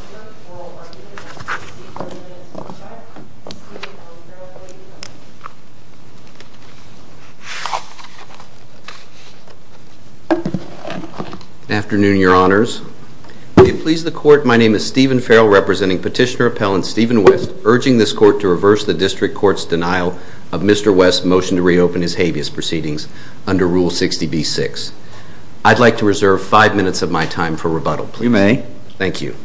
for oral argument against Petitioner-Appellant Stephen West and Petitioner-Appellant Stephen West. Good afternoon, Your Honors. May it please the Court, my name is Stephen Farrell, representing Petitioner-Appellant Stephen West, urging this Court to reverse the District Court's denial of Mr. West's motion to reopen his habeas proceedings under Rule 60b-6. I'd like to reserve five minutes of my time for rebuttal. You may. Thank you.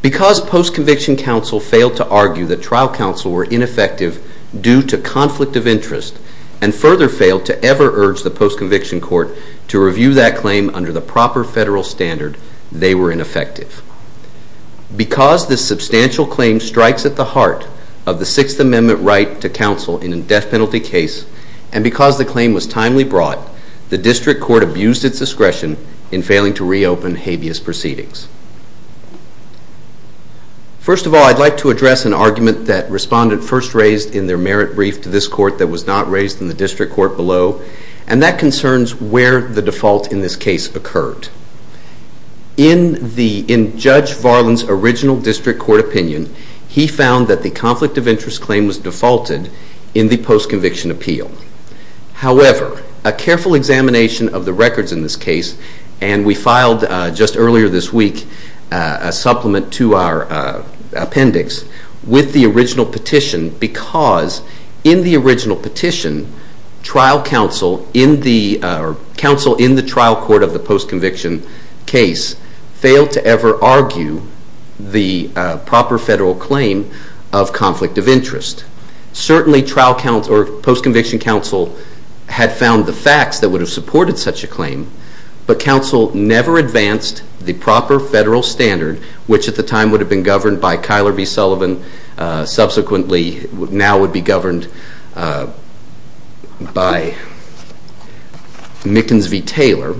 Because post-conviction counsel failed to argue that trial counsel were ineffective due to conflict of interest, and further failed to ever urge the post-conviction court to review that claim under the proper federal standard, they were ineffective. Because this substantial claim strikes at the heart of the Sixth Amendment right to counsel in a death penalty case, and because the claim was timely brought, the District Court abused its discretion in failing to reopen habeas proceedings. First of all, I'd like to address an argument that Respondent first raised in their merit brief to this Court that was not raised in the District Court below, and that concerns where the default in this case occurred. In Judge Varlin's original District Court opinion, he found that the conflict of interest claim was defaulted in the post-conviction appeal. However, a careful examination of the records in this case, and we filed just earlier this week a supplement to our appendix with the original petition, because in the original petition, trial counsel in the trial court of the post-conviction case failed to ever argue the proper federal claim of conflict of interest. Certainly, post-conviction counsel had found the facts that would have supported such a claim, but counsel never advanced the proper federal standard, which at the time would have been governed by Kyler v. Sullivan, subsequently now would be governed by Mickens v. Taylor.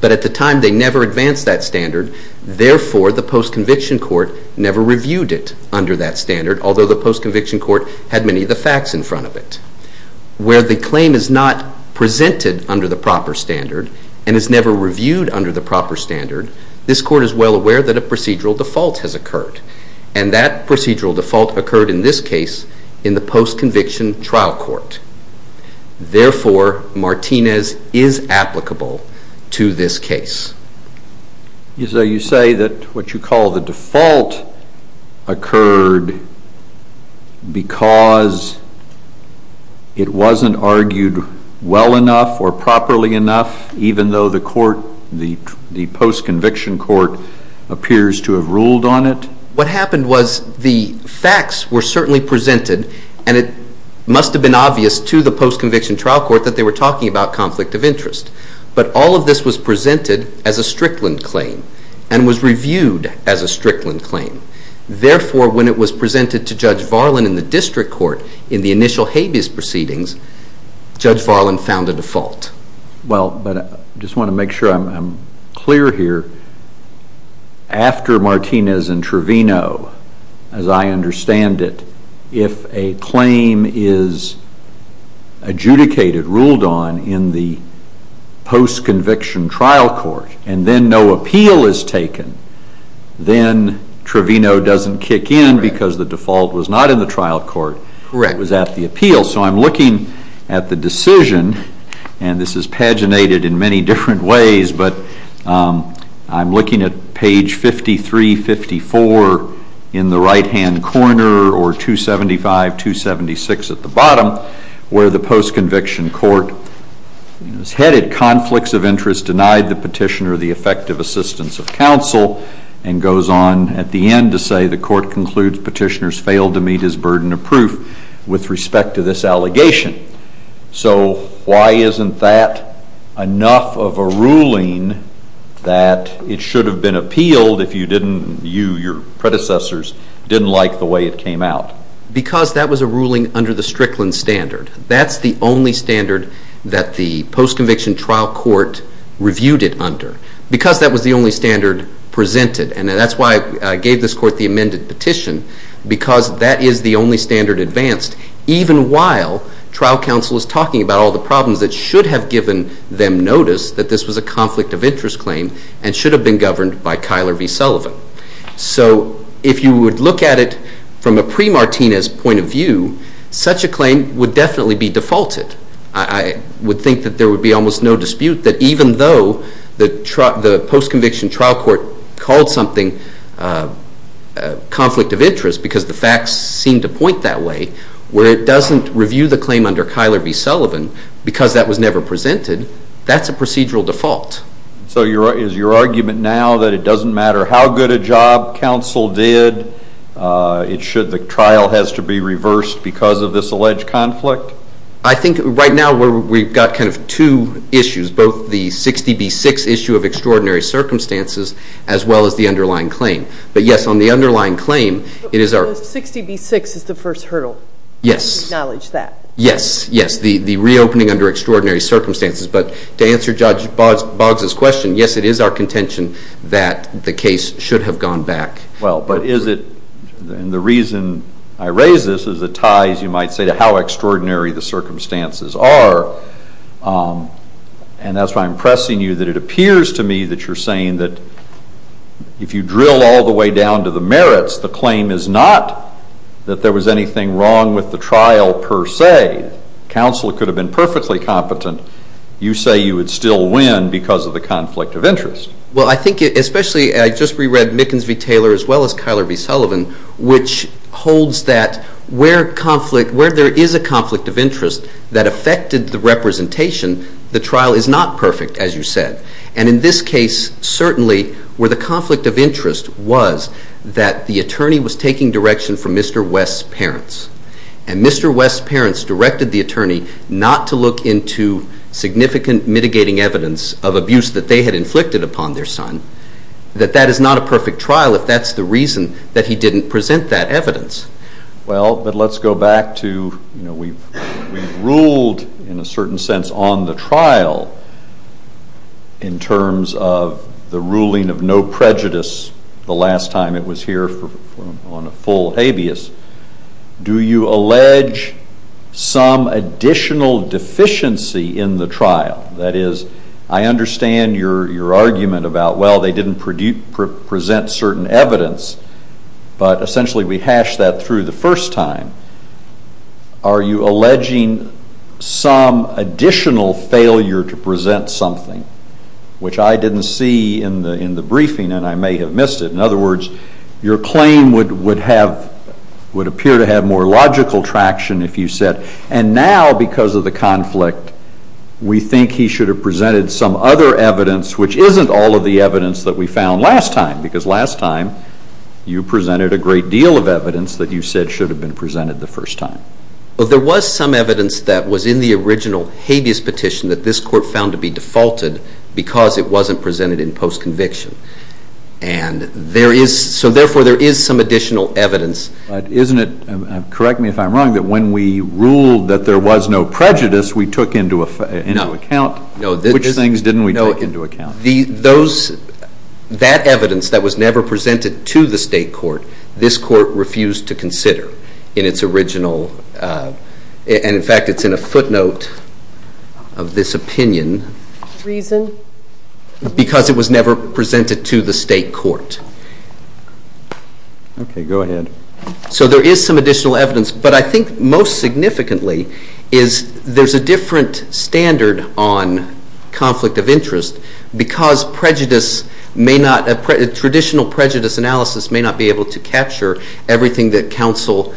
But at the time, they never advanced that standard. Therefore, the post-conviction court never reviewed it under that standard, although the post-conviction court had many of the facts in front of it. Where the claim is not presented under the proper standard and is never reviewed under the proper standard, and that procedural default occurred in this case in the post-conviction trial court. Therefore, Martinez is applicable to this case. So you say that what you call the default occurred because it wasn't argued well enough or properly enough, even though the post-conviction court appears to have ruled on it? What happened was the facts were certainly presented, and it must have been obvious to the post-conviction trial court that they were talking about conflict of interest. But all of this was presented as a Strickland claim and was reviewed as a Strickland claim. Therefore, when it was presented to Judge Varlan in the district court in the initial habeas proceedings, Judge Varlan found a default. Well, but I just want to make sure I'm clear here. After Martinez and Trevino, as I understand it, if a claim is adjudicated, ruled on in the post-conviction trial court, and then no appeal is taken, then Trevino doesn't kick in because the default was not in the trial court. Correct. It was at the appeal. So I'm looking at the decision, and this is paginated in many different ways, but I'm looking at page 5354 in the right-hand corner or 275, 276 at the bottom, where the post-conviction court is headed, Conflicts of Interest Denied the Petitioner the Effective Assistance of Counsel, and goes on at the end to say, The court concludes petitioners failed to meet his burden of proof with respect to this allegation. So why isn't that enough of a ruling that it should have been appealed if you didn't, you, your predecessors, didn't like the way it came out? Because that was a ruling under the Strickland standard. That's the only standard that the post-conviction trial court reviewed it under, because that was the only standard presented. And that's why I gave this court the amended petition, because that is the only standard advanced, even while trial counsel is talking about all the problems that should have given them notice that this was a conflict of interest claim and should have been governed by Kyler v. Sullivan. So if you would look at it from a pre-Martinez point of view, such a claim would definitely be defaulted. I would think that there would be almost no dispute that even though the post-conviction trial court called something a conflict of interest because the facts seemed to point that way, where it doesn't review the claim under Kyler v. Sullivan because that was never presented, that's a procedural default. So is your argument now that it doesn't matter how good a job counsel did, the trial has to be reversed because of this alleged conflict? I think right now we've got kind of two issues, both the 60B6 issue of extraordinary circumstances as well as the underlying claim. But, yes, on the underlying claim it is our ---- But 60B6 is the first hurdle. Yes. Acknowledge that. Yes, yes, the reopening under extraordinary circumstances. But to answer Judge Boggs' question, yes, it is our contention that the case should have gone back. Well, but is it, and the reason I raise this is it ties, you might say, to how extraordinary the circumstances are. And that's why I'm pressing you that it appears to me that you're saying that if you drill all the way down to the merits, the claim is not that there was anything wrong with the trial per se. Counsel could have been perfectly competent. You say you would still win because of the conflict of interest. Well, I think especially, and I just reread Mickens v. Taylor as well as Kyler v. Sullivan, which holds that where there is a conflict of interest that affected the representation, the trial is not perfect, as you said. And in this case, certainly, where the conflict of interest was that the attorney was taking direction from Mr. West's parents. And Mr. West's parents directed the attorney not to look into significant mitigating evidence of abuse that they had inflicted upon their son, that that is not a perfect trial if that's the reason that he didn't present that evidence. Well, but let's go back to, you know, we've ruled in a certain sense on the trial in terms of the ruling of no prejudice the last time it was here on a full habeas. Do you allege some additional deficiency in the trial? That is, I understand your argument about, well, they didn't present certain evidence, but essentially we hashed that through the first time. Are you alleging some additional failure to present something, which I didn't see in the briefing and I may have missed it? In other words, your claim would appear to have more logical traction if you said, and now because of the conflict, we think he should have presented some other evidence, which isn't all of the evidence that we found last time, because last time you presented a great deal of evidence that you said should have been presented the first time. Well, there was some evidence that was in the original habeas petition that this court found to be defaulted because it wasn't presented in post-conviction. And there is, so therefore there is some additional evidence. But isn't it, correct me if I'm wrong, that when we ruled that there was no prejudice we took into account? No. Which things didn't we take into account? That evidence that was never presented to the state court, this court refused to consider in its original, and in fact it's in a footnote of this opinion. Reason? Because it was never presented to the state court. Okay, go ahead. So there is some additional evidence, but I think most significantly is there's a different standard on conflict of interest because prejudice may not, traditional prejudice analysis may not be able to capture everything that counsel,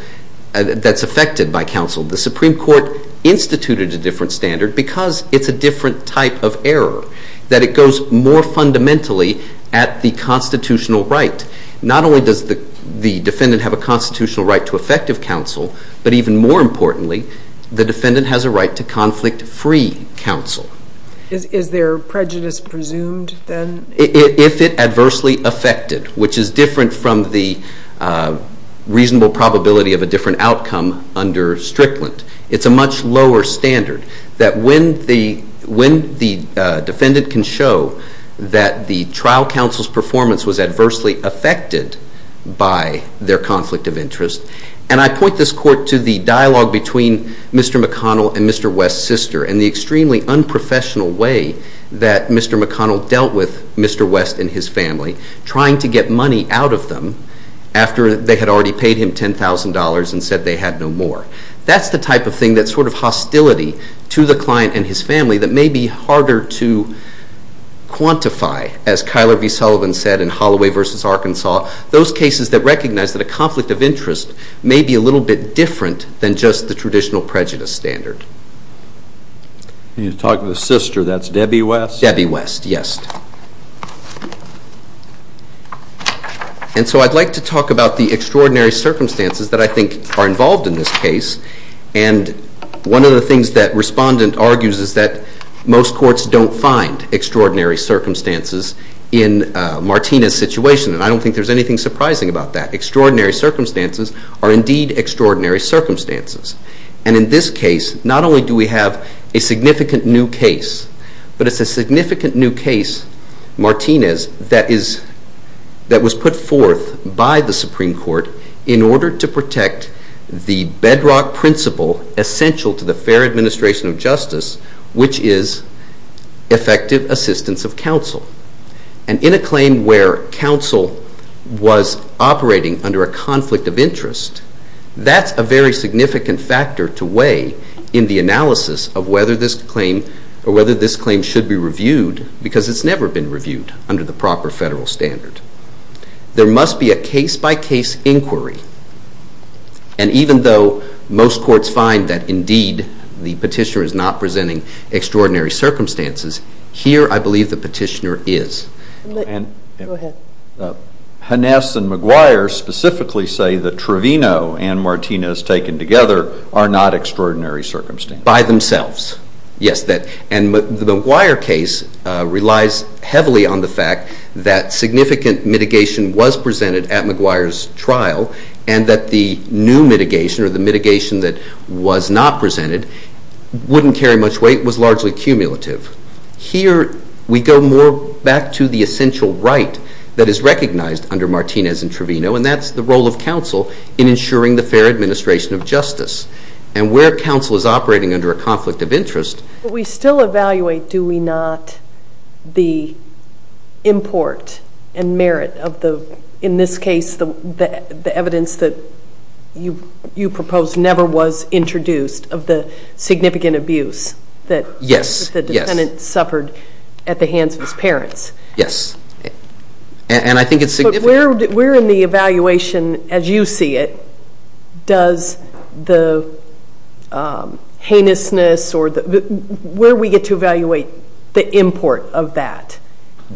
that's affected by counsel. The Supreme Court instituted a different standard because it's a different type of error, that it goes more fundamentally at the constitutional right. Not only does the defendant have a constitutional right to effective counsel, but even more importantly the defendant has a right to conflict-free counsel. Is there prejudice presumed then? If it adversely affected, which is different from the reasonable probability of a different outcome under Strickland. It's a much lower standard that when the defendant can show that the trial counsel's performance was adversely affected by their conflict of interest, and I point this court to the dialogue between Mr. McConnell and Mr. West's sister and the extremely unprofessional way that Mr. McConnell dealt with Mr. West and his family, trying to get money out of them after they had already paid him $10,000 and said they had no more. That's the type of thing that's sort of hostility to the client and his family that may be harder to quantify, as Kyler V. Sullivan said in Holloway v. Arkansas, those cases that recognize that a conflict of interest may be a little bit different than just the traditional prejudice standard. You're talking to the sister, that's Debbie West? Debbie West, yes. And so I'd like to talk about the extraordinary circumstances that I think are involved in this case, and one of the things that Respondent argues is that most courts don't find extraordinary circumstances in Martina's situation, and I don't think there's anything surprising about that. Extraordinary circumstances are indeed extraordinary circumstances, and in this case, not only do we have a significant new case, but it's a significant new case, Martina's, that was put forth by the Supreme Court in order to protect the bedrock principle essential to the fair administration of justice, which is effective assistance of counsel. And in a claim where counsel was operating under a conflict of interest, that's a very significant factor to weigh in the analysis of whether this claim should be reviewed, because it's never been reviewed under the proper federal standard. There must be a case-by-case inquiry, and even though most courts find that indeed the petitioner is not presenting extraordinary circumstances, here I believe the petitioner is. Go ahead. Hannes and McGuire specifically say that Trevino and Martina's taken together are not extraordinary circumstances. By themselves, yes. And the McGuire case relies heavily on the fact that significant mitigation was presented at McGuire's trial and that the new mitigation or the mitigation that was not presented wouldn't carry much weight, was largely cumulative. Here, we go more back to the essential right that is recognized under Martina's and Trevino, and that's the role of counsel in ensuring the fair administration of justice. And where counsel is operating under a conflict of interest... We still evaluate, do we not, the import and merit of the, in this case, the evidence that you proposed never was introduced of the significant abuse that... Yes. ...the defendant suffered at the hands of his parents. Yes. And I think it's significant. But where in the evaluation, as you see it, does the heinousness or where we get to evaluate the import of that?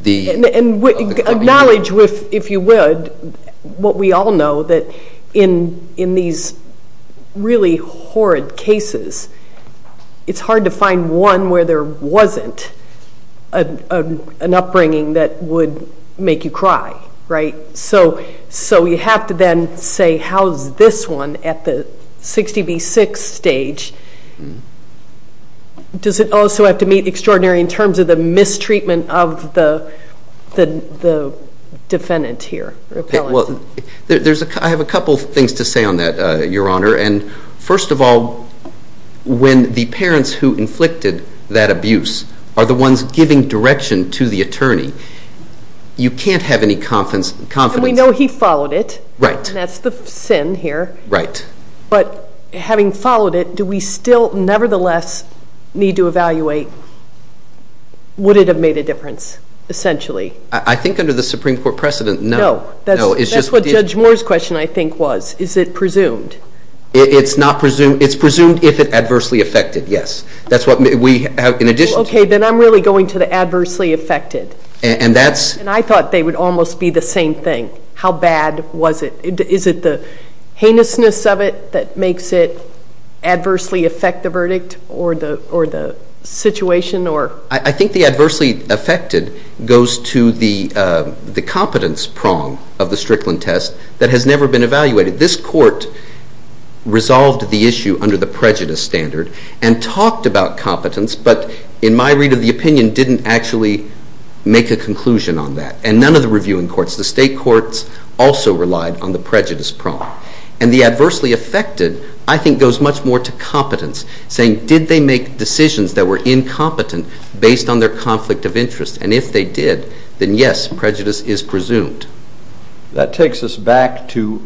The... And acknowledge, if you would, what we all know, that in these really horrid cases, it's hard to find one where there wasn't an upbringing that would make you cry, right? So you have to then say, how is this one at the 60 v. 6 stage? Does it also have to meet extraordinary in terms of the mistreatment of the defendant here? Well, I have a couple things to say on that, Your Honor. And first of all, when the parents who inflicted that abuse are the ones giving direction to the attorney, you can't have any confidence. And we know he followed it. Right. And that's the sin here. Right. But having followed it, do we still nevertheless need to evaluate, would it have made a difference, essentially? I think under the Supreme Court precedent, no. No. That's what Judge Moore's question, I think, was. Is it presumed? It's presumed if it adversely affected, yes. That's what we have in addition to... Okay, then I'm really going to the adversely affected. And that's... And I thought they would almost be the same thing. How bad was it? Is it the heinousness of it that makes it adversely affect the verdict or the situation? I think the adversely affected goes to the competence prong of the Strickland test that has never been evaluated. This court resolved the issue under the prejudice standard and talked about competence, but in my read of the opinion didn't actually make a conclusion on that. And none of the reviewing courts, the state courts, also relied on the prejudice prong. And the adversely affected, I think, goes much more to competence, saying did they make decisions that were incompetent based on their conflict of interest? And if they did, then yes, prejudice is presumed. That takes us back to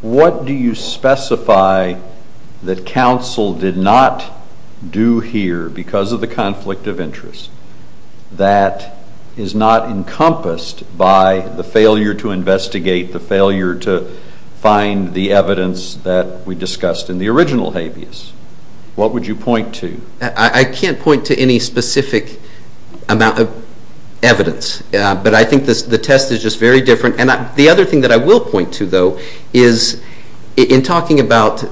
what do you specify that counsel did not do here because of the conflict of interest that is not encompassed by the failure to investigate, the failure to find the evidence that we discussed in the original habeas? What would you point to? I can't point to any specific amount of evidence, but I think the test is just very different. And the other thing that I will point to, though, is in talking about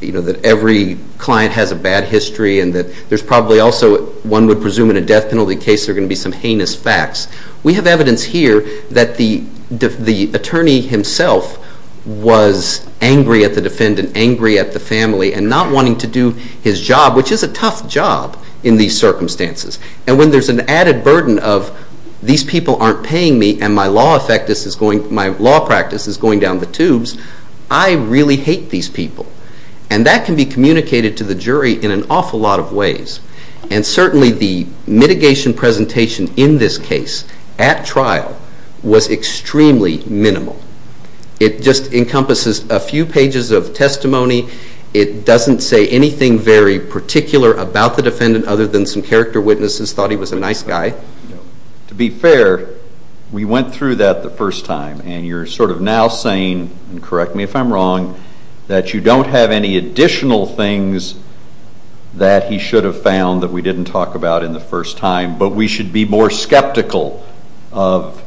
that every client has a bad history and that there's probably also one would presume in a death penalty case there are going to be some heinous facts, we have evidence here that the attorney himself was angry at the defendant, angry at the family, and not wanting to do his job, which is a tough job in these circumstances. And when there's an added burden of these people aren't paying me and my law practice is going down the tubes, I really hate these people. And that can be communicated to the jury in an awful lot of ways. And certainly the mitigation presentation in this case at trial was extremely minimal. It just encompasses a few pages of testimony. It doesn't say anything very particular about the defendant other than some character witnesses thought he was a nice guy. To be fair, we went through that the first time, and you're sort of now saying, and correct me if I'm wrong, that you don't have any additional things that he should have found that we didn't talk about in the first time, but we should be more skeptical of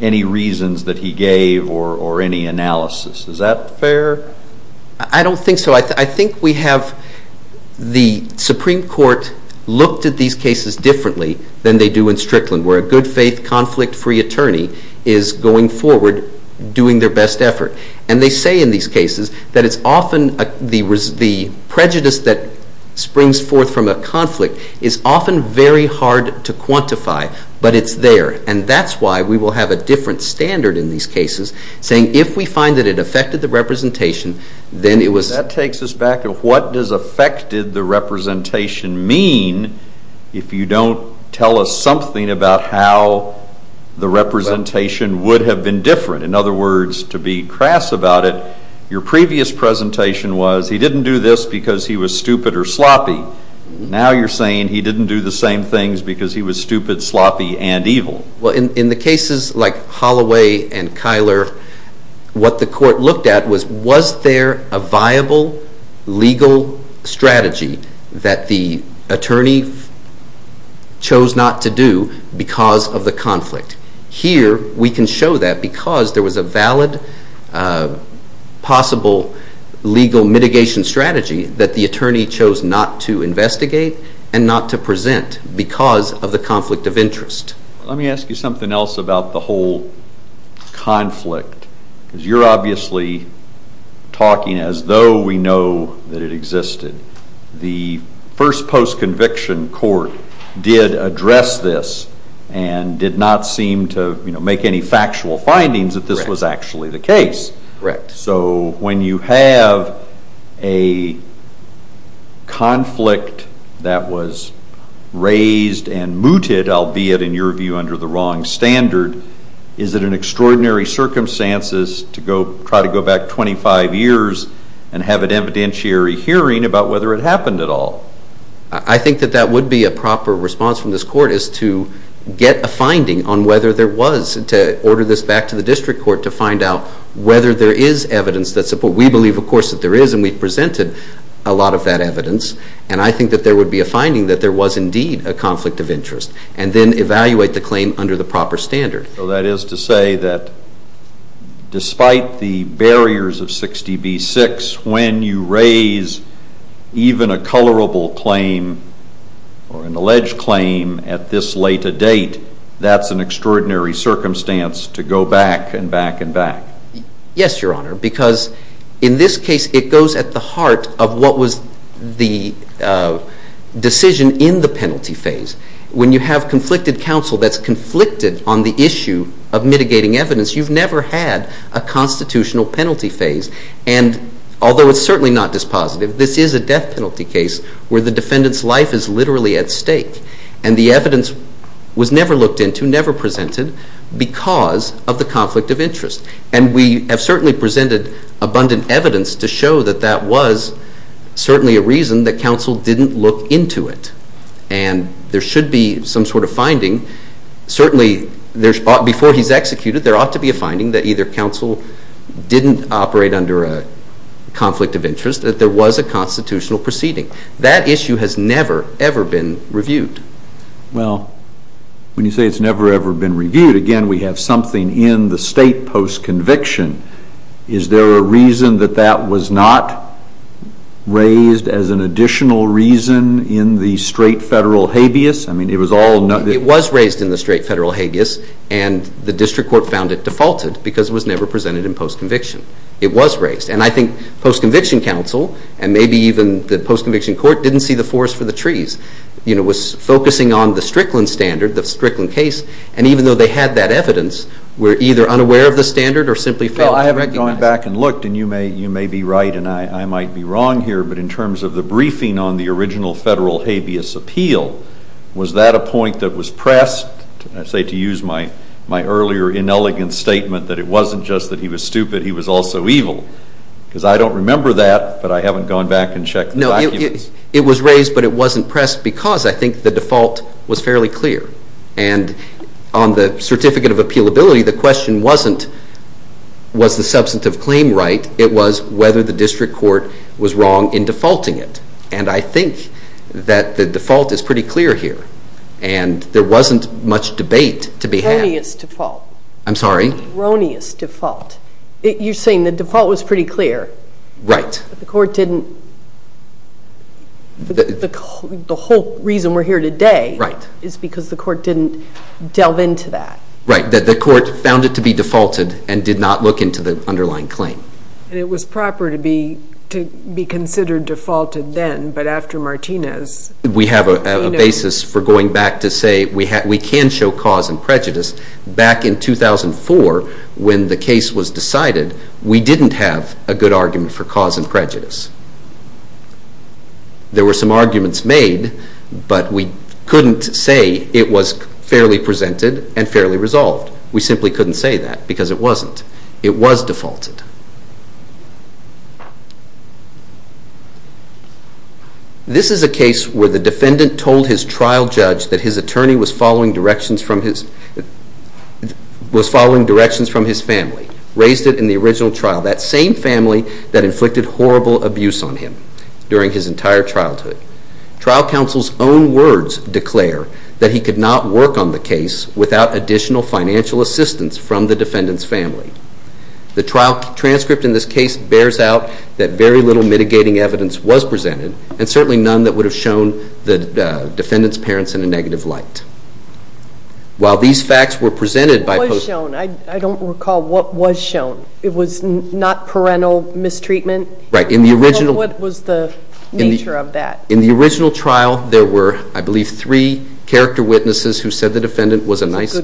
any reasons that he gave or any analysis. Is that fair? I don't think so. I think we have the Supreme Court looked at these cases differently than they do in Strickland, where a good-faith, conflict-free attorney is going forward doing their best effort. And they say in these cases that it's often the prejudice that springs forth from a conflict is often very hard to quantify, but it's there. And that's why we will have a different standard in these cases, saying if we find that it affected the representation, then it was... That takes us back to what does affected the representation mean if you don't tell us something about how the representation would have been different? In other words, to be crass about it, your previous presentation was he didn't do this because he was stupid or sloppy. Now you're saying he didn't do the same things because he was stupid, sloppy, and evil. Well, in the cases like Holloway and Kyler, what the court looked at was was there a viable legal strategy that the attorney chose not to do because of the conflict? Here, we can show that because there was a valid possible legal mitigation strategy that the attorney chose not to investigate and not to present because of the conflict of interest. Let me ask you something else about the whole conflict. Because you're obviously talking as though we know that it existed. The first post-conviction court did address this and did not seem to make any factual findings that this was actually the case. Correct. So when you have a conflict that was raised and mooted, albeit in your view under the wrong standard, is it an extraordinary circumstance to try to go back 25 years and have an evidentiary hearing about whether it happened at all? I think that would be a proper response from this court is to get a finding on whether there was and to order this back to the district court to find out whether there is evidence that supports. We believe, of course, that there is, and we've presented a lot of that evidence, and I think that there would be a finding that there was indeed a conflict of interest and then evaluate the claim under the proper standard. So that is to say that despite the barriers of 60B-6, when you raise even a colorable claim or an alleged claim at this late a date, that's an extraordinary circumstance to go back and back and back. Yes, Your Honor, because in this case it goes at the heart of what was the decision in the penalty phase. When you have conflicted counsel that's conflicted on the issue of mitigating evidence, you've never had a constitutional penalty phase. And although it's certainly not dispositive, this is a death penalty case where the defendant's life is literally at stake, and the evidence was never looked into, never presented, because of the conflict of interest. And we have certainly presented abundant evidence to show that that was certainly a reason that counsel didn't look into it. And there should be some sort of finding. Certainly, before he's executed, there ought to be a finding that either counsel didn't operate under a conflict of interest, that there was a constitutional proceeding. That issue has never, ever been reviewed. Well, when you say it's never, ever been reviewed, again, we have something in the state post-conviction. Is there a reason that that was not raised as an additional reason in the straight federal habeas? I mean, it was all... It was raised in the straight federal habeas, and the district court found it defaulted because it was never presented in post-conviction. It was raised. And I think post-conviction counsel, and maybe even the post-conviction court, didn't see the forest for the trees. It was focusing on the Strickland standard, the Strickland case, and even though they had that evidence, were either unaware of the standard or simply failed to recognize it. Well, I haven't gone back and looked, and you may be right and I might be wrong here, but in terms of the briefing on the original federal habeas appeal, was that a point that was pressed? I say to use my earlier inelegant statement that it wasn't just that he was stupid, he was also evil, because I don't remember that, but I haven't gone back and checked the documents. No, it was raised, but it wasn't pressed because I think the default was fairly clear. And on the certificate of appealability, the question wasn't was the substantive claim right? It was whether the district court was wrong in defaulting it. And I think that the default is pretty clear here, and there wasn't much debate to be had. A erroneous default. I'm sorry? Erroneous default. You're saying the default was pretty clear. Right. The court didn't, the whole reason we're here today is because the court didn't delve into that. Right, that the court found it to be defaulted and did not look into the underlying claim. And it was proper to be considered defaulted then, but after Martinez. We have a basis for going back to say we can show cause and prejudice. Back in 2004, when the case was decided, we didn't have a good argument for cause and prejudice. There were some arguments made, but we couldn't say it was fairly presented and fairly resolved. We simply couldn't say that because it wasn't. It was defaulted. This is a case where the defendant told his trial judge that his attorney was following directions from his family. Raised it in the original trial. That same family that inflicted horrible abuse on him during his entire childhood. Trial counsel's own words declare that he could not work on the case without additional financial assistance from the defendant's family. The trial transcript in this case bears out that very little mitigating evidence was presented. And certainly none that would have shown the defendant's parents in a negative light. While these facts were presented by... What was shown? I don't recall what was shown. It was not parental mistreatment? Right, in the original... What was the nature of that? In the original trial, there were, I believe, three character witnesses who said the defendant was a nice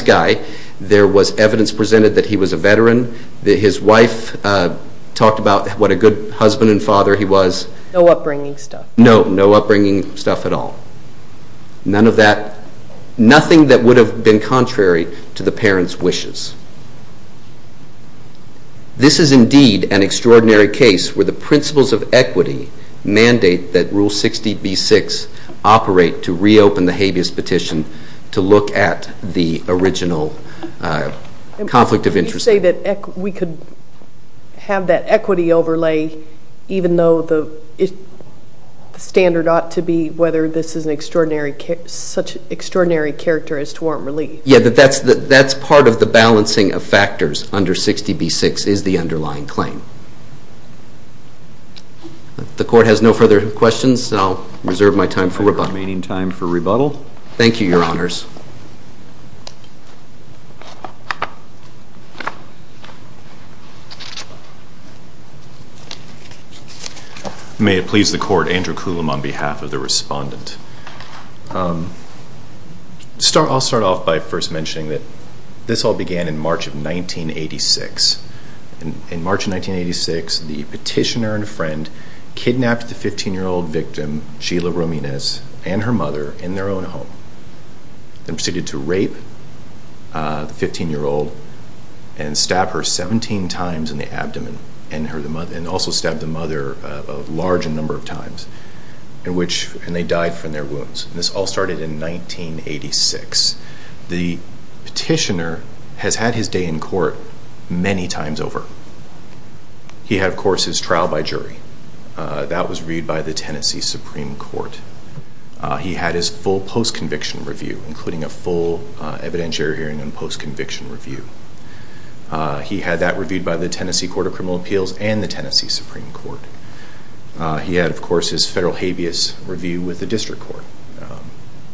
guy. There was evidence presented that he was a veteran. His wife talked about what a good husband and father he was. No upbringing stuff? No, no upbringing stuff at all. None of that... Nothing that would have been contrary to the parents' wishes. This is indeed an extraordinary case where the principles of equity mandate that Rule 60b-6 operate to reopen the habeas petition to look at the original conflict of interest. You say that we could have that equity overlay even though the standard ought to be whether this is such an extraordinary character as to warrant relief. Yeah, that's part of the balancing of factors under 60b-6 is the underlying claim. The court has no further questions, so I'll reserve my time for rebuttal. Remaining time for rebuttal? Thank you, Your Honors. May it please the court, Andrew Coulombe on behalf of the respondent. I'll start off by first mentioning that this all began in March of 1986. In March of 1986, the petitioner and friend kidnapped the 15-year-old victim, Sheila Rominez, and her mother in their own home. They proceeded to rape the 15-year-old and stab her 17 times in the abdomen and also stabbed the mother a large number of times, and they died from their wounds. This all started in 1986. The petitioner has had his day in court many times over. He had, of course, his trial by jury. That was reviewed by the Tennessee Supreme Court. He had his full post-conviction review, including a full evidentiary hearing and post-conviction review. He had that reviewed by the Tennessee Court of Criminal Appeals and the Tennessee Supreme Court. He had, of course, his federal habeas review with the district court,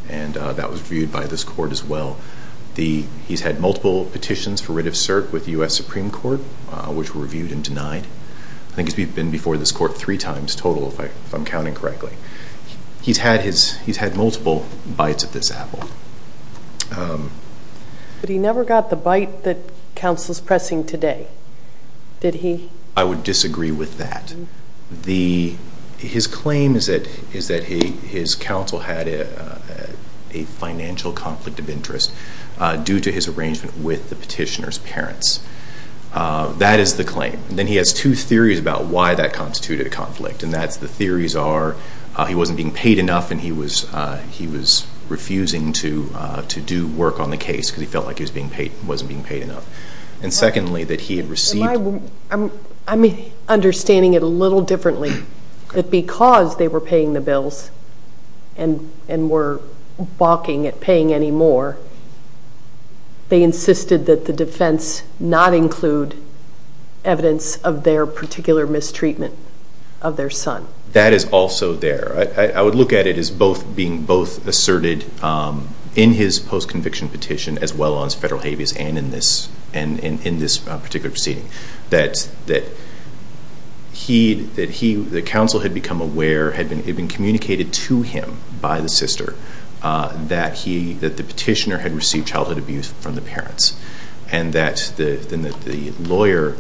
and that was reviewed by this court as well. He's had multiple petitions for writ of cert with the U.S. Supreme Court, which were reviewed and denied. I think he's been before this court three times total, if I'm counting correctly. He's had multiple bites of this apple. But he never got the bite that counsel is pressing today, did he? I would disagree with that. His claim is that his counsel had a financial conflict of interest due to his arrangement with the petitioner's parents. That is the claim. Then he has two theories about why that constituted a conflict, and that's the theories are he wasn't being paid enough and he was refusing to do work on the case because he felt like he wasn't being paid enough. And secondly, that he had received... I'm understanding it a little differently, that because they were paying the bills and were balking at paying any more, they insisted that the defense not include evidence of their particular mistreatment of their son. That is also there. I would look at it as being both asserted in his post-conviction petition as well as federal habeas and in this particular proceeding. That the counsel had become aware, had been communicated to him by the sister, that the petitioner had received childhood abuse from the parents. And that the lawyer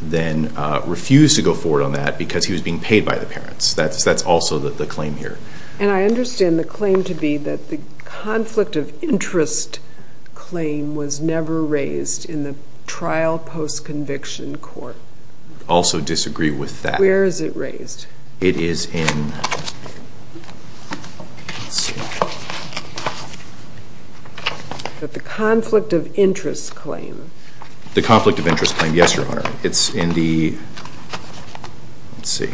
then refused to go forward on that because he was being paid by the parents. That's also the claim here. And I understand the claim to be that the conflict of interest claim was never raised in the trial post-conviction court. Also disagree with that. Where is it raised? It is in... The conflict of interest claim. The conflict of interest claim. Yes, Your Honor. It's in the... Let's see.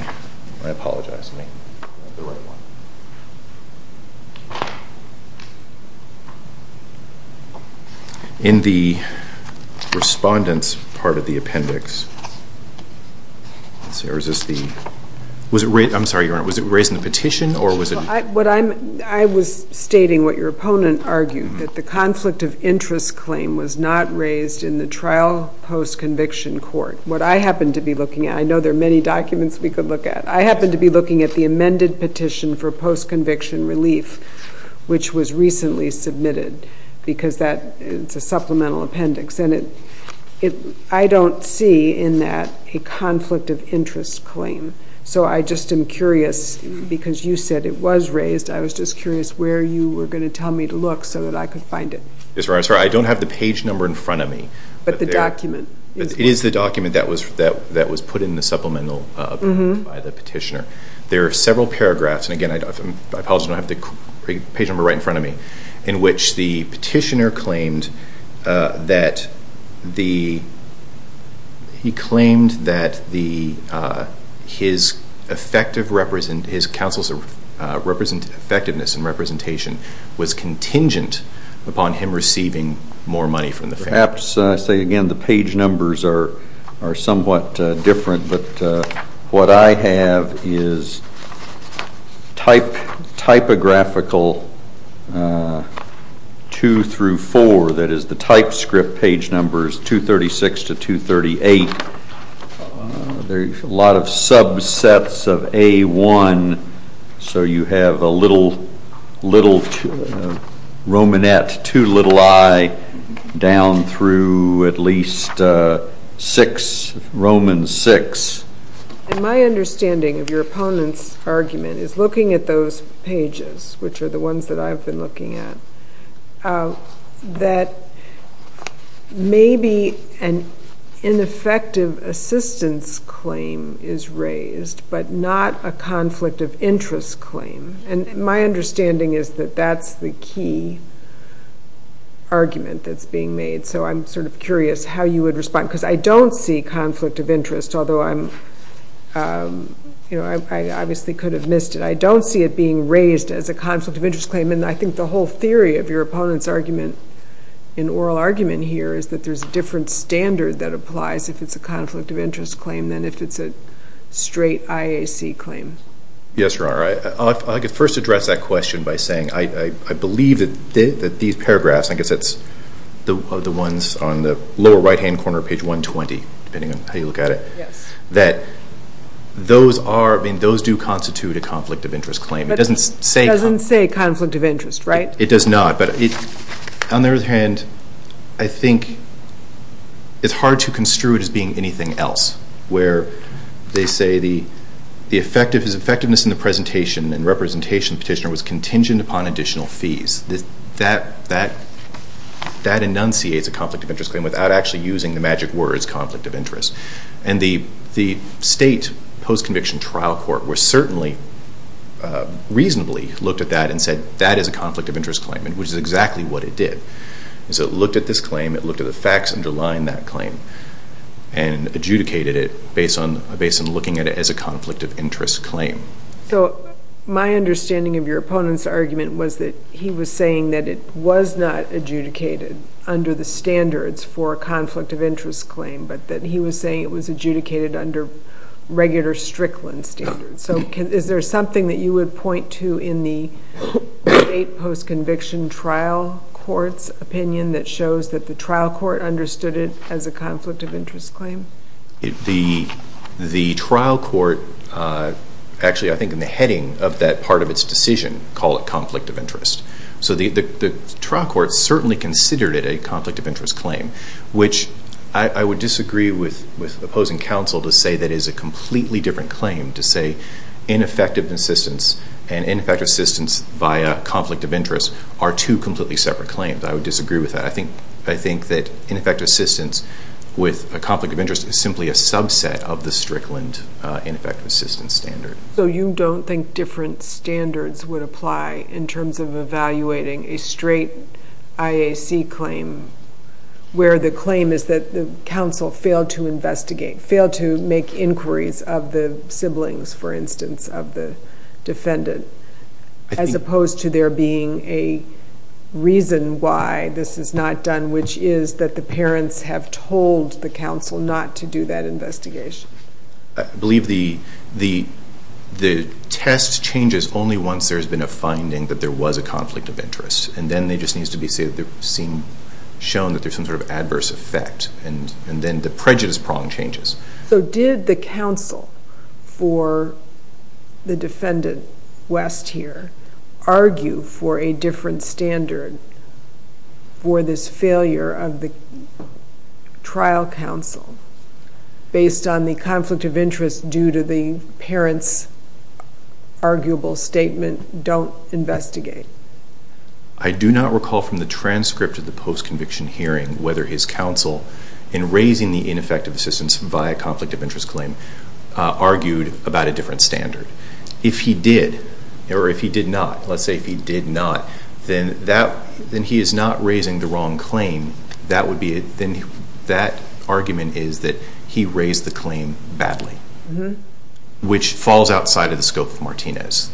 I apologize. In the respondent's part of the appendix... Or is this the... I'm sorry, Your Honor. Was it raised in the petition or was it... I was stating what your opponent argued, that the conflict of interest claim was not raised in the trial post-conviction court. What I happen to be looking at... I know there are many documents we could look at. I happen to be looking at the amended petition for post-conviction relief, which was recently submitted because it's a supplemental appendix. And I don't see in that a conflict of interest claim. So I just am curious, because you said it was raised, I was just curious where you were going to tell me to look so that I could find it. Yes, Your Honor. I'm sorry. I don't have the page number in front of me. But the document. It is the document that was put in the supplemental appendix by the petitioner. There are several paragraphs, and again, I apologize, I don't have the page number right in front of me, in which the petitioner claimed that the... He claimed that his effective represent... his counsel's effectiveness and representation was contingent upon him receiving more money from the family. Perhaps, I say again, the page numbers are somewhat different, but what I have is typographical 2 through 4, that is the typescript page numbers 236 to 238. There's a lot of subsets of A1, so you have a little Romanette to little i down through at least 6, Roman 6. And my understanding of your opponent's argument is, looking at those pages, which are the ones that I've been looking at, that maybe an ineffective assistance claim is raised, but not a conflict of interest claim. And my understanding is that that's the key argument that's being made. So I'm sort of curious how you would respond, because I don't see conflict of interest, although I obviously could have missed it. I don't see it being raised as a conflict of interest claim, and I think the whole theory of your opponent's argument, in oral argument here, is that there's a different standard that applies if it's a conflict of interest claim than if it's a straight IAC claim. Yes, Your Honor. I could first address that question by saying I believe that these paragraphs, I guess that's the ones on the lower right-hand corner of page 120, depending on how you look at it, that those do constitute a conflict of interest claim. But it doesn't say conflict of interest, right? It does not. On the other hand, I think it's hard to construe it as being anything else, where they say the effectiveness in the presentation and representation petitioner was contingent upon additional fees. That enunciates a conflict of interest claim without actually using the magic words, conflict of interest. And the state post-conviction trial court was certainly reasonably looked at that and said that is a conflict of interest claim, which is exactly what it did. So it looked at this claim, it looked at the facts underlying that claim, and adjudicated it based on looking at it as a conflict of interest claim. So my understanding of your opponent's argument was that he was saying that it was not adjudicated under the standards for a conflict of interest claim, but that he was saying it was adjudicated under regular Strickland standards. So is there something that you would point to in the state post-conviction trial court's opinion that shows that the trial court understood it as a conflict of interest claim? The trial court, actually I think in the heading of that part of its decision, called it conflict of interest. So the trial court certainly considered it a conflict of interest claim, which I would disagree with opposing counsel to say that is a completely different claim to say ineffective assistance and ineffective assistance via conflict of interest are two completely separate claims. I would disagree with that. I think that ineffective assistance with a conflict of interest is simply a subset of the Strickland ineffective assistance standard. So you don't think different standards would apply in terms of evaluating a straight IAC claim where the claim is that the counsel failed to investigate, failed to make inquiries of the siblings, for instance, of the defendant, as opposed to there being a reason why this is not done, which is that the parents have told the counsel not to do that investigation. I believe the test changes only once there's been a finding that there was a conflict of interest, and then it just needs to be shown that there's some sort of adverse effect, and then the prejudice prong changes. So did the counsel for the defendant, West here, argue for a different standard for this failure of the trial counsel based on the conflict of interest due to the parents' arguable statement, don't investigate? I do not recall from the transcript of the post-conviction hearing whether his counsel, in raising the ineffective assistance via conflict of interest claim, argued about a different standard. If he did, or if he did not, let's say if he did not, then he is not raising the wrong claim. That argument is that he raised the claim badly, which falls outside of the scope of Martinez.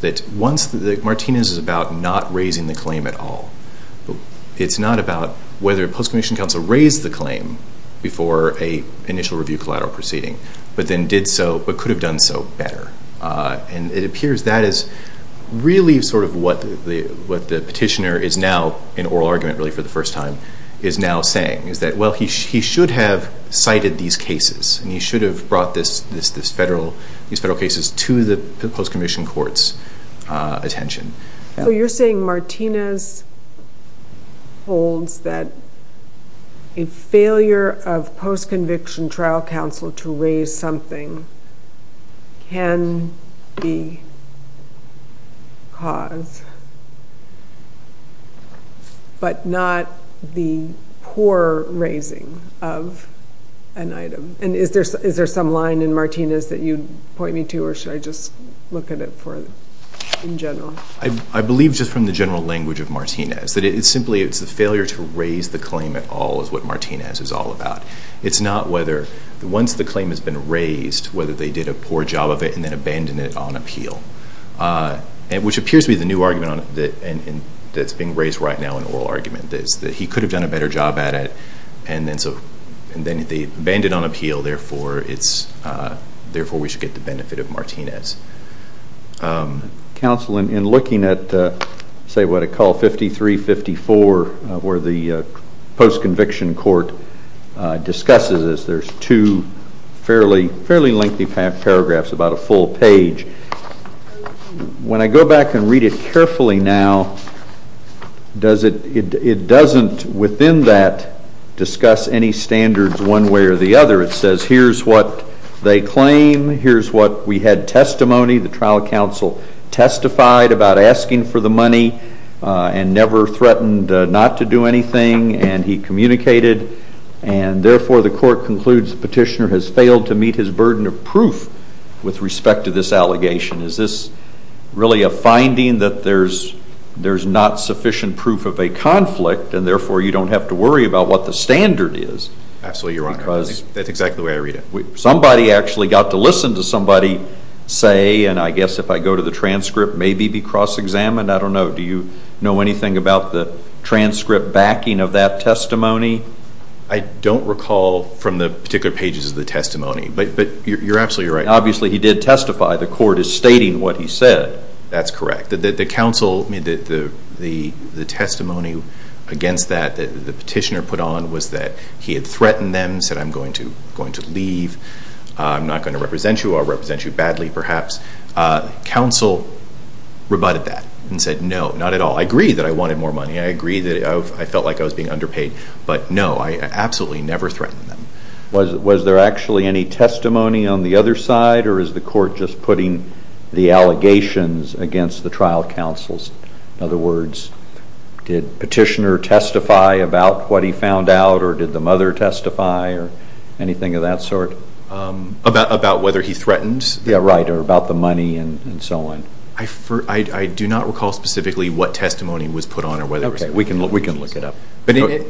Martinez is about not raising the claim at all. It's not about whether post-conviction counsel raised the claim before an initial review collateral proceeding, but then did so, but could have done so better. And it appears that is really sort of what the petitioner is now, in oral argument really for the first time, is now saying, is that, well, he should have cited these cases, and he should have brought these federal cases to the post-conviction court's attention. So you're saying Martinez holds that a failure of post-conviction trial counsel to raise something can be caused, but not the poor raising of an item. And is there some line in Martinez that you'd point me to, or should I just look at it in general? I believe just from the general language of Martinez, that it's simply the failure to raise the claim at all is what Martinez is all about. It's not whether once the claim has been raised, whether they did a poor job of it and then abandoned it on appeal, which appears to be the new argument that's being raised right now in oral argument, that he could have done a better job at it, and then they abandoned it on appeal, therefore we should get the benefit of Martinez. Counsel, in looking at, say, what I call 5354, where the post-conviction court discusses this, there's two fairly lengthy paragraphs, about a full page. When I go back and read it carefully now, it doesn't, within that, discuss any standards one way or the other. It says here's what they claim, here's what we had testimony, the trial counsel testified about asking for the money and never threatened not to do anything, and he communicated, and therefore the court concludes the petitioner has failed to meet his burden of proof with respect to this allegation. Is this really a finding that there's not sufficient proof of a conflict, and therefore you don't have to worry about what the standard is? Absolutely, Your Honor. That's exactly the way I read it. Somebody actually got to listen to somebody say, and I guess if I go to the transcript, maybe be cross-examined, I don't know. Do you know anything about the transcript backing of that testimony? I don't recall from the particular pages of the testimony, but you're absolutely right. Obviously he did testify. The court is stating what he said. That's correct. The testimony against that the petitioner put on was that he had threatened them, said I'm going to leave, I'm not going to represent you, I'll represent you badly perhaps. Counsel rebutted that and said no, not at all. I agree that I wanted more money. I agree that I felt like I was being underpaid, but no, I absolutely never threatened them. Was there actually any testimony on the other side or is the court just putting the allegations against the trial counsels? In other words, did the petitioner testify about what he found out or did the mother testify or anything of that sort? About whether he threatened? Yeah, right, or about the money and so on. I do not recall specifically what testimony was put on or whether it was put on. Okay, we can look it up.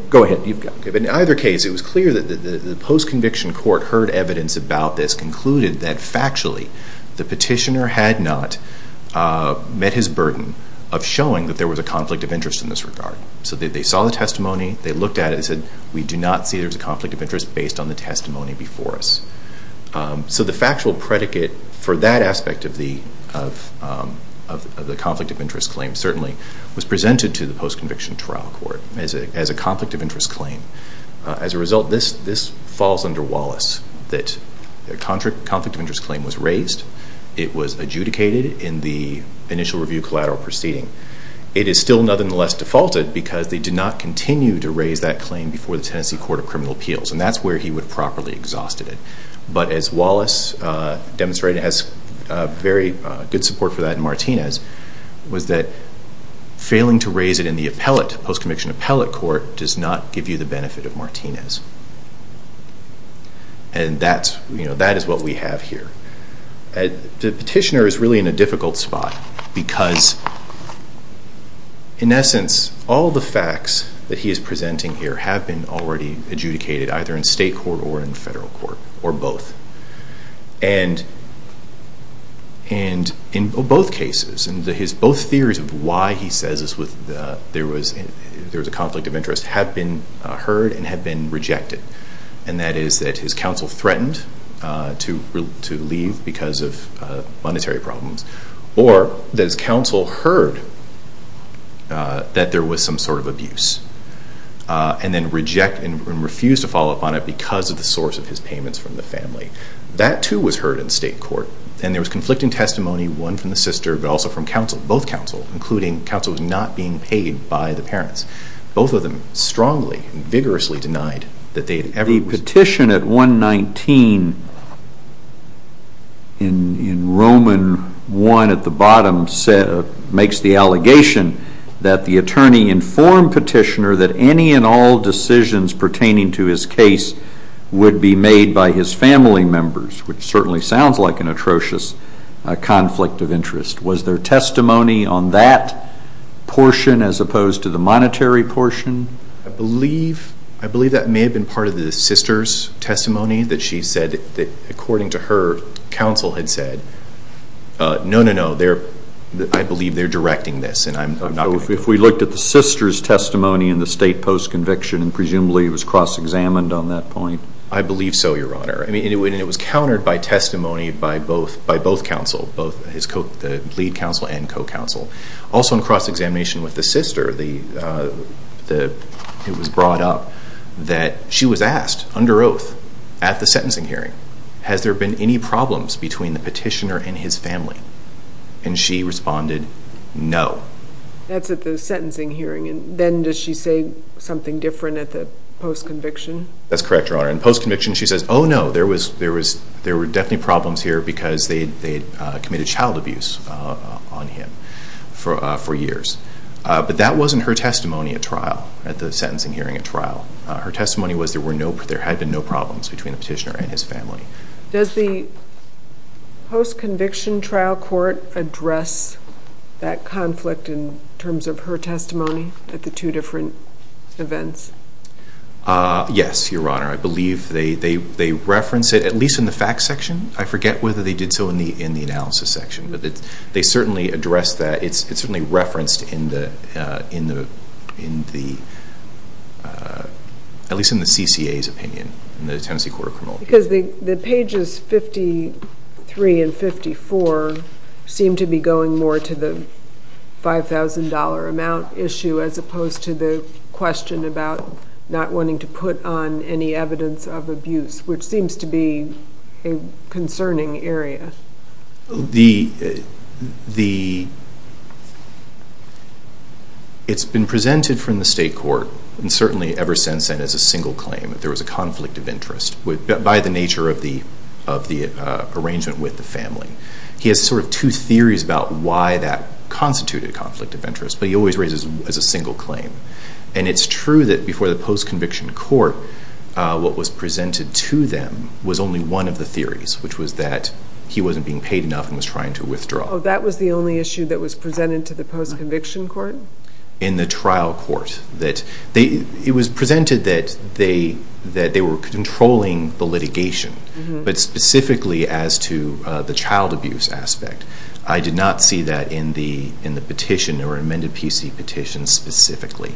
Go ahead. In either case, it was clear that the post-conviction court heard evidence about this, concluded that factually the petitioner had not met his burden of showing that there was a conflict of interest in this regard. So they saw the testimony, they looked at it, they said we do not see there's a conflict of interest based on the testimony before us. So the factual predicate for that aspect of the conflict of interest claim certainly was presented to the post-conviction trial court as a conflict of interest claim. As a result, this falls under Wallace, that a conflict of interest claim was raised, it was adjudicated in the initial review collateral proceeding. It is still nonetheless defaulted because they did not continue to raise that claim before the Tennessee Court of Criminal Appeals, and that's where he would have properly exhausted it. But as Wallace demonstrated, and has very good support for that in Martinez, was that failing to raise it in the post-conviction appellate court does not give you the benefit of Martinez. And that is what we have here. The petitioner is really in a difficult spot because, in essence, all the facts that he is presenting here have been already adjudicated, and in both cases, his both theories of why he says there was a conflict of interest have been heard and have been rejected, and that is that his counsel threatened to leave because of monetary problems, or that his counsel heard that there was some sort of abuse and then refused to follow up on it because of the source of his payments from the family. That, too, was heard in state court, and there was conflicting testimony, one from the sister, but also from counsel, both counsel, including counsel who was not being paid by the parents. Both of them strongly and vigorously denied that they had ever... The petition at 119 in Roman 1 at the bottom makes the allegation that the attorney informed petitioner that any and all decisions pertaining to his case would be made by his family members, which certainly sounds like an atrocious conflict of interest. Was there testimony on that portion as opposed to the monetary portion? I believe that may have been part of the sister's testimony, that she said that according to her, counsel had said, no, no, no, I believe they are directing this. If we looked at the sister's testimony in the state post-conviction, presumably it was cross-examined on that point? I believe so, Your Honor, and it was countered by testimony by both counsel, both the lead counsel and co-counsel. Also in cross-examination with the sister, it was brought up that she was asked, under oath, at the sentencing hearing, has there been any problems between the petitioner and his family? And she responded, no. That's at the sentencing hearing. Then does she say something different at the post-conviction? That's correct, Your Honor. In post-conviction, she says, oh, no, there were definitely problems here because they had committed child abuse on him for years. But that wasn't her testimony at trial, at the sentencing hearing at trial. Her testimony was there had been no problems between the petitioner and his family. Does the post-conviction trial court address that conflict in terms of her testimony at the two different events? Yes, Your Honor. I believe they reference it, at least in the facts section. I forget whether they did so in the analysis section, but they certainly address that. It's certainly referenced, at least in the CCA's opinion, in the Tennessee Court of Criminals. Because the pages 53 and 54 seem to be going more to the $5,000 amount issue as opposed to the question about not wanting to put on any evidence of abuse, which seems to be a concerning area. It's been presented from the state court, and certainly ever since then, as a single claim, that there was a conflict of interest by the nature of the arrangement with the family. He has sort of two theories about why that constituted a conflict of interest, but he always raises it as a single claim. And it's true that before the post-conviction court, what was presented to them was only one of the theories, which was that he wasn't being paid enough and was trying to withdraw. Oh, that was the only issue that was presented to the post-conviction court? In the trial court. It was presented that they were controlling the litigation, but specifically as to the child abuse aspect. I did not see that in the petition or amended PC petition specifically,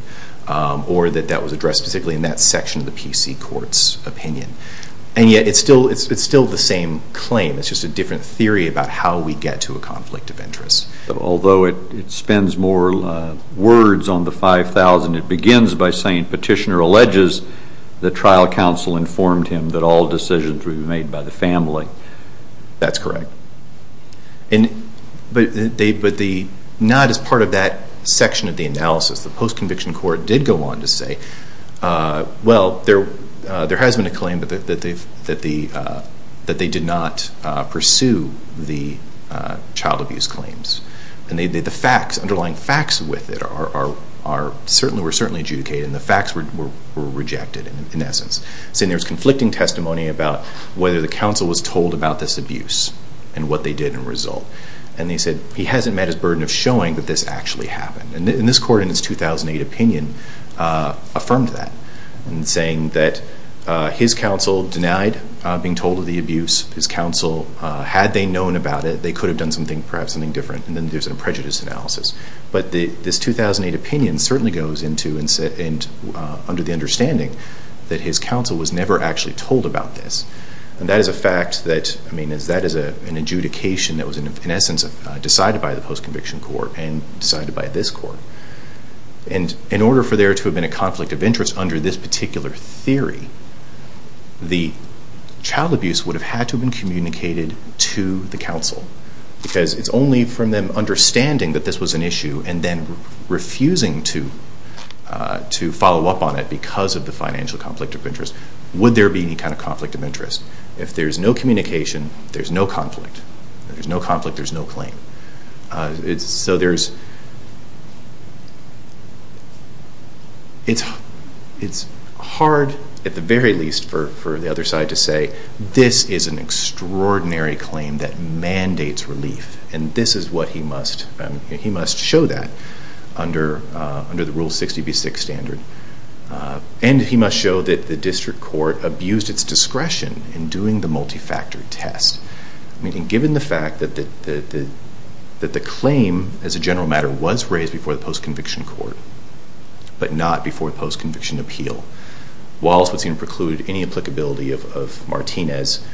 or that that was addressed specifically in that section of the PC court's opinion. And yet it's still the same claim. It's just a different theory about how we get to a conflict of interest. Although it spends more words on the 5,000, it begins by saying petitioner alleges the trial counsel informed him that all decisions were made by the family. That's correct. But not as part of that section of the analysis. The post-conviction court did go on to say, well, there has been a claim that they did not pursue the child abuse claims. And the underlying facts with it were certainly adjudicated, and the facts were rejected in essence. So there's conflicting testimony about whether the counsel was told about this abuse and what they did in result. And they said he hasn't met his burden of showing that this actually happened. And this court in its 2008 opinion affirmed that in saying that his counsel denied being told of the abuse. His counsel, had they known about it, they could have done something, perhaps something different. And then there's a prejudice analysis. But this 2008 opinion certainly goes into and under the understanding that his counsel was never actually told about this. And that is a fact that, I mean, that is an adjudication that was in essence decided by the post-conviction court and decided by this court. And in order for there to have been a conflict of interest under this particular theory, the child abuse would have had to have been communicated to the counsel. Because it's only from them understanding that this was an issue and then refusing to follow up on it because of the financial conflict of interest would there be any kind of conflict of interest. If there's no communication, there's no conflict. If there's no conflict, there's no claim. So there's, it's hard at the very least for the other side to say, this is an extraordinary claim that mandates relief. And this is what he must, he must show that under the Rule 60b-6 standard. And he must show that the district court abused its discretion in doing the multi-factor test. I mean, given the fact that the claim, as a general matter, was raised before the post-conviction court, but not before the post-conviction appeal, Wallace would seem to preclude any applicability of Martinez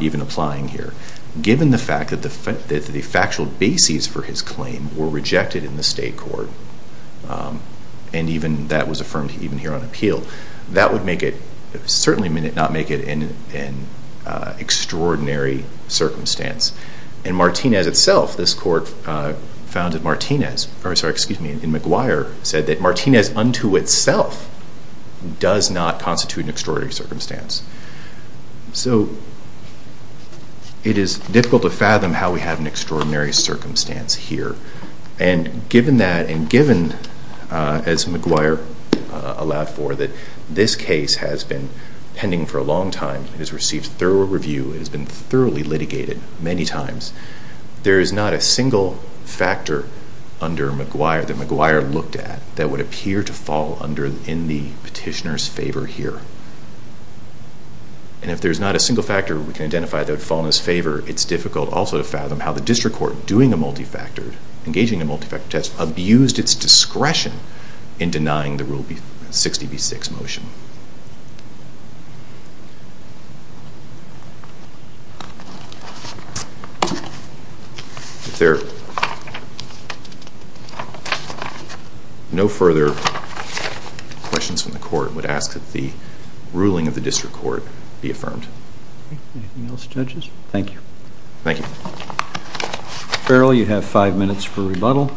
even applying here. Given the fact that the factual bases for his claim were rejected in the state court, and even that was affirmed even here on appeal, that would make it, certainly not make it an extraordinary circumstance. In Martinez itself, this court found that Martinez, or sorry, excuse me, in McGuire, said that Martinez unto itself does not constitute an extraordinary circumstance. So it is difficult to fathom how we have an extraordinary circumstance here. And given that, and given, as McGuire allowed for, that this case has been pending for a long time. It has received thorough review. It has been thoroughly litigated many times. There is not a single factor under McGuire, that McGuire looked at, that would appear to fall under, in the petitioner's favor here. And if there's not a single factor we can identify that would fall in his favor, it's difficult also to fathom how the district court, doing a multi-factor, engaging a multi-factor test, abused its discretion in denying the Rule 60B6 motion. If there are no further questions from the court, I would ask that the ruling of the district court be affirmed. Anything else, judges? Thank you. Thank you. Farrell, you have five minutes for rebuttal.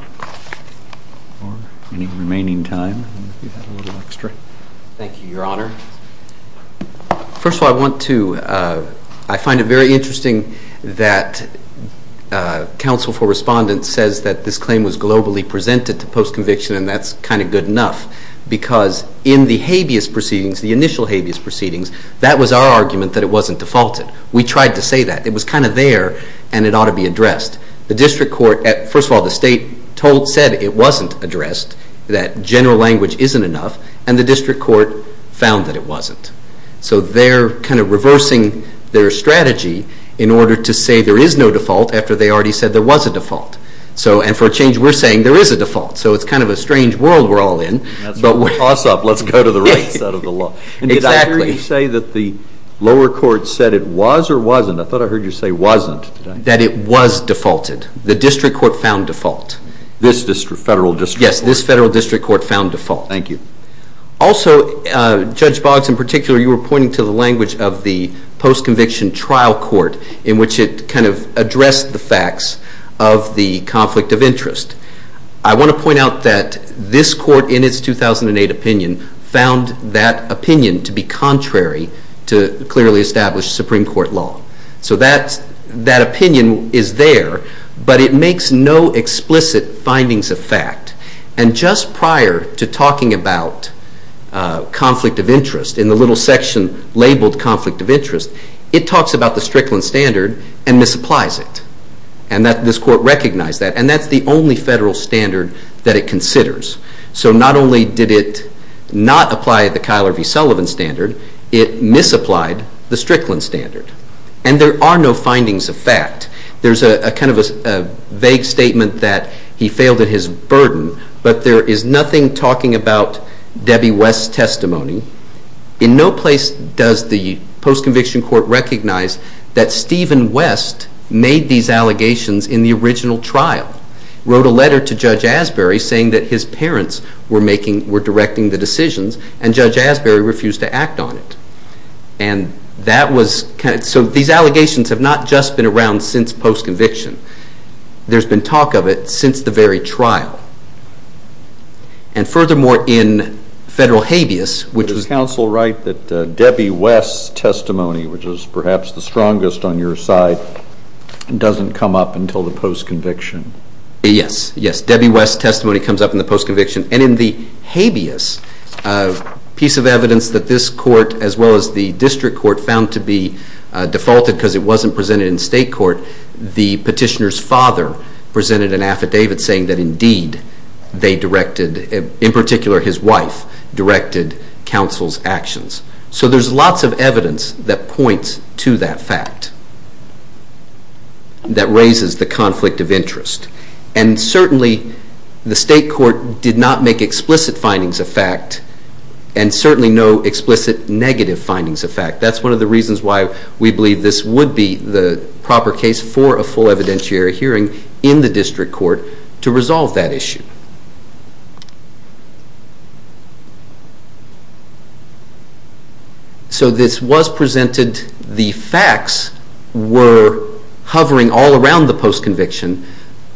Or any remaining time, if you have a little extra. Thank you, Your Honor. First of all, I want to, I find it very interesting that counsel for respondents says that this claim was globally presented to post-conviction, and that's kind of good enough. Because in the habeas proceedings, the initial habeas proceedings, that was our argument that it wasn't defaulted. We tried to say that. It was kind of there, and it ought to be addressed. The district court, first of all, the state said it wasn't addressed, that general language isn't enough, and the district court found that it wasn't. So they're kind of reversing their strategy in order to say there is no default after they already said there was a default. And for a change, we're saying there is a default. So it's kind of a strange world we're all in. That's a toss-up. Let's go to the right side of the law. Exactly. Did I hear you say that the lower court said it was or wasn't? I thought I heard you say wasn't. That it was defaulted. The district court found default. This federal district court? Yes, this federal district court found default. Thank you. Also, Judge Boggs, in particular, you were pointing to the language of the post-conviction trial court in which it kind of addressed the facts of the conflict of interest. I want to point out that this court, in its 2008 opinion, found that opinion to be contrary to clearly established Supreme Court law. So that opinion is there, but it makes no explicit findings of fact. And just prior to talking about conflict of interest, in the little section labeled conflict of interest, it talks about the Strickland Standard and misapplies it. And this court recognized that. And that's the only federal standard that it considers. So not only did it not apply the Kyler v. Sullivan Standard, it misapplied the Strickland Standard. And there are no findings of fact. There's kind of a vague statement that he failed at his burden, but there is nothing talking about Debbie West's testimony. In no place does the post-conviction court recognize that Stephen West made these allegations in the original trial, wrote a letter to Judge Asbury saying that his parents were directing the decisions, and Judge Asbury refused to act on it. So these allegations have not just been around since post-conviction. There's been talk of it since the very trial. And furthermore, in federal habeas, which was... the strongest on your side, doesn't come up until the post-conviction. Yes. Yes. Debbie West's testimony comes up in the post-conviction. And in the habeas piece of evidence that this court, as well as the district court, found to be defaulted because it wasn't presented in state court, the petitioner's father presented an affidavit saying that indeed they directed, in particular his wife, directed counsel's actions. So there's lots of evidence that points to that fact that raises the conflict of interest. And certainly the state court did not make explicit findings of fact and certainly no explicit negative findings of fact. That's one of the reasons why we believe this would be the proper case for a full evidentiary hearing in the district court to resolve that issue. So this was presented. The facts were hovering all around the post-conviction,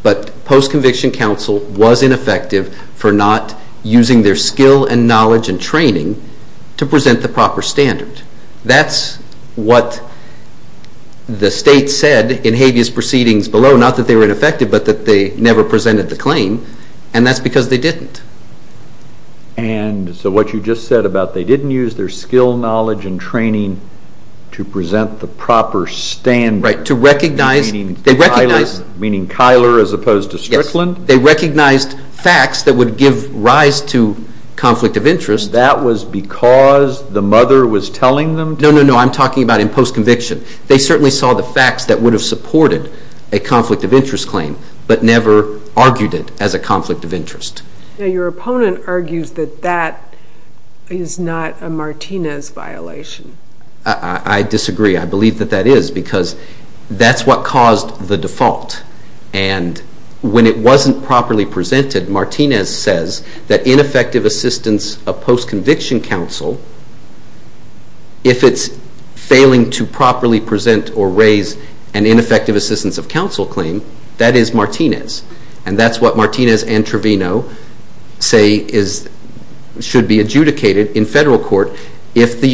but post-conviction counsel was ineffective for not using their skill and knowledge and training to present the proper standard. That's what the state said in habeas proceedings below. Not that they were ineffective, but that they never presented the claim. And that's because they didn't. And so what you just said about they didn't use their skill, knowledge, and training to present the proper standard. Right. To recognize... Meaning Keiler as opposed to Strickland? Yes. They recognized facts that would give rise to conflict of interest. That was because the mother was telling them to? No, no, no. I'm talking about in post-conviction. They certainly saw the facts that would have supported a conflict of interest claim, but never argued it as a conflict of interest. Your opponent argues that that is not a Martinez violation. I disagree. I believe that that is because that's what caused the default. And when it wasn't properly presented, Martinez says that ineffective assistance of post-conviction counsel, if it's failing to properly present or raise an ineffective assistance of counsel claim, that is Martinez. And that's what Martinez and Trevino say should be adjudicated in federal court And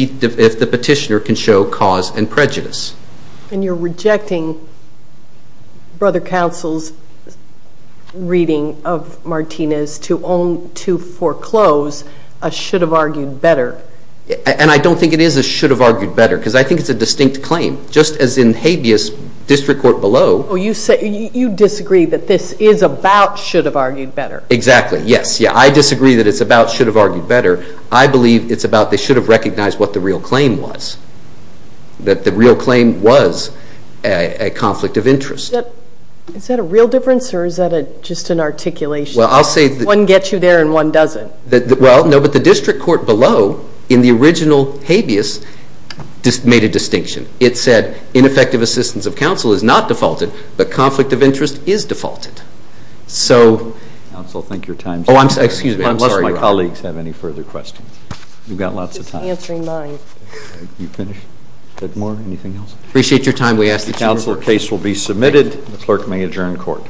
you're rejecting Brother Counsel's reading of Martinez to foreclose a should-have-argued-better. And I don't think it is a should-have-argued-better because I think it's a distinct claim. Just as in habeas district court below... You disagree that this is about should-have-argued-better. Exactly. Yes. I disagree that it's about should-have-argued-better. I believe it's about they should have recognized what the real claim was, that the real claim was a conflict of interest. Is that a real difference or is that just an articulation? Well, I'll say... One gets you there and one doesn't. Well, no, but the district court below in the original habeas made a distinction. It said ineffective assistance of counsel is not defaulted, but conflict of interest is defaulted. So... Counsel, I think your time is up. Oh, I'm sorry. Unless my colleagues have any further questions. You've got lots of time. Just answering mine. You finished? Anything else? Appreciate your time. We ask that you... Counsel, the case will be submitted. The clerk may adjourn court.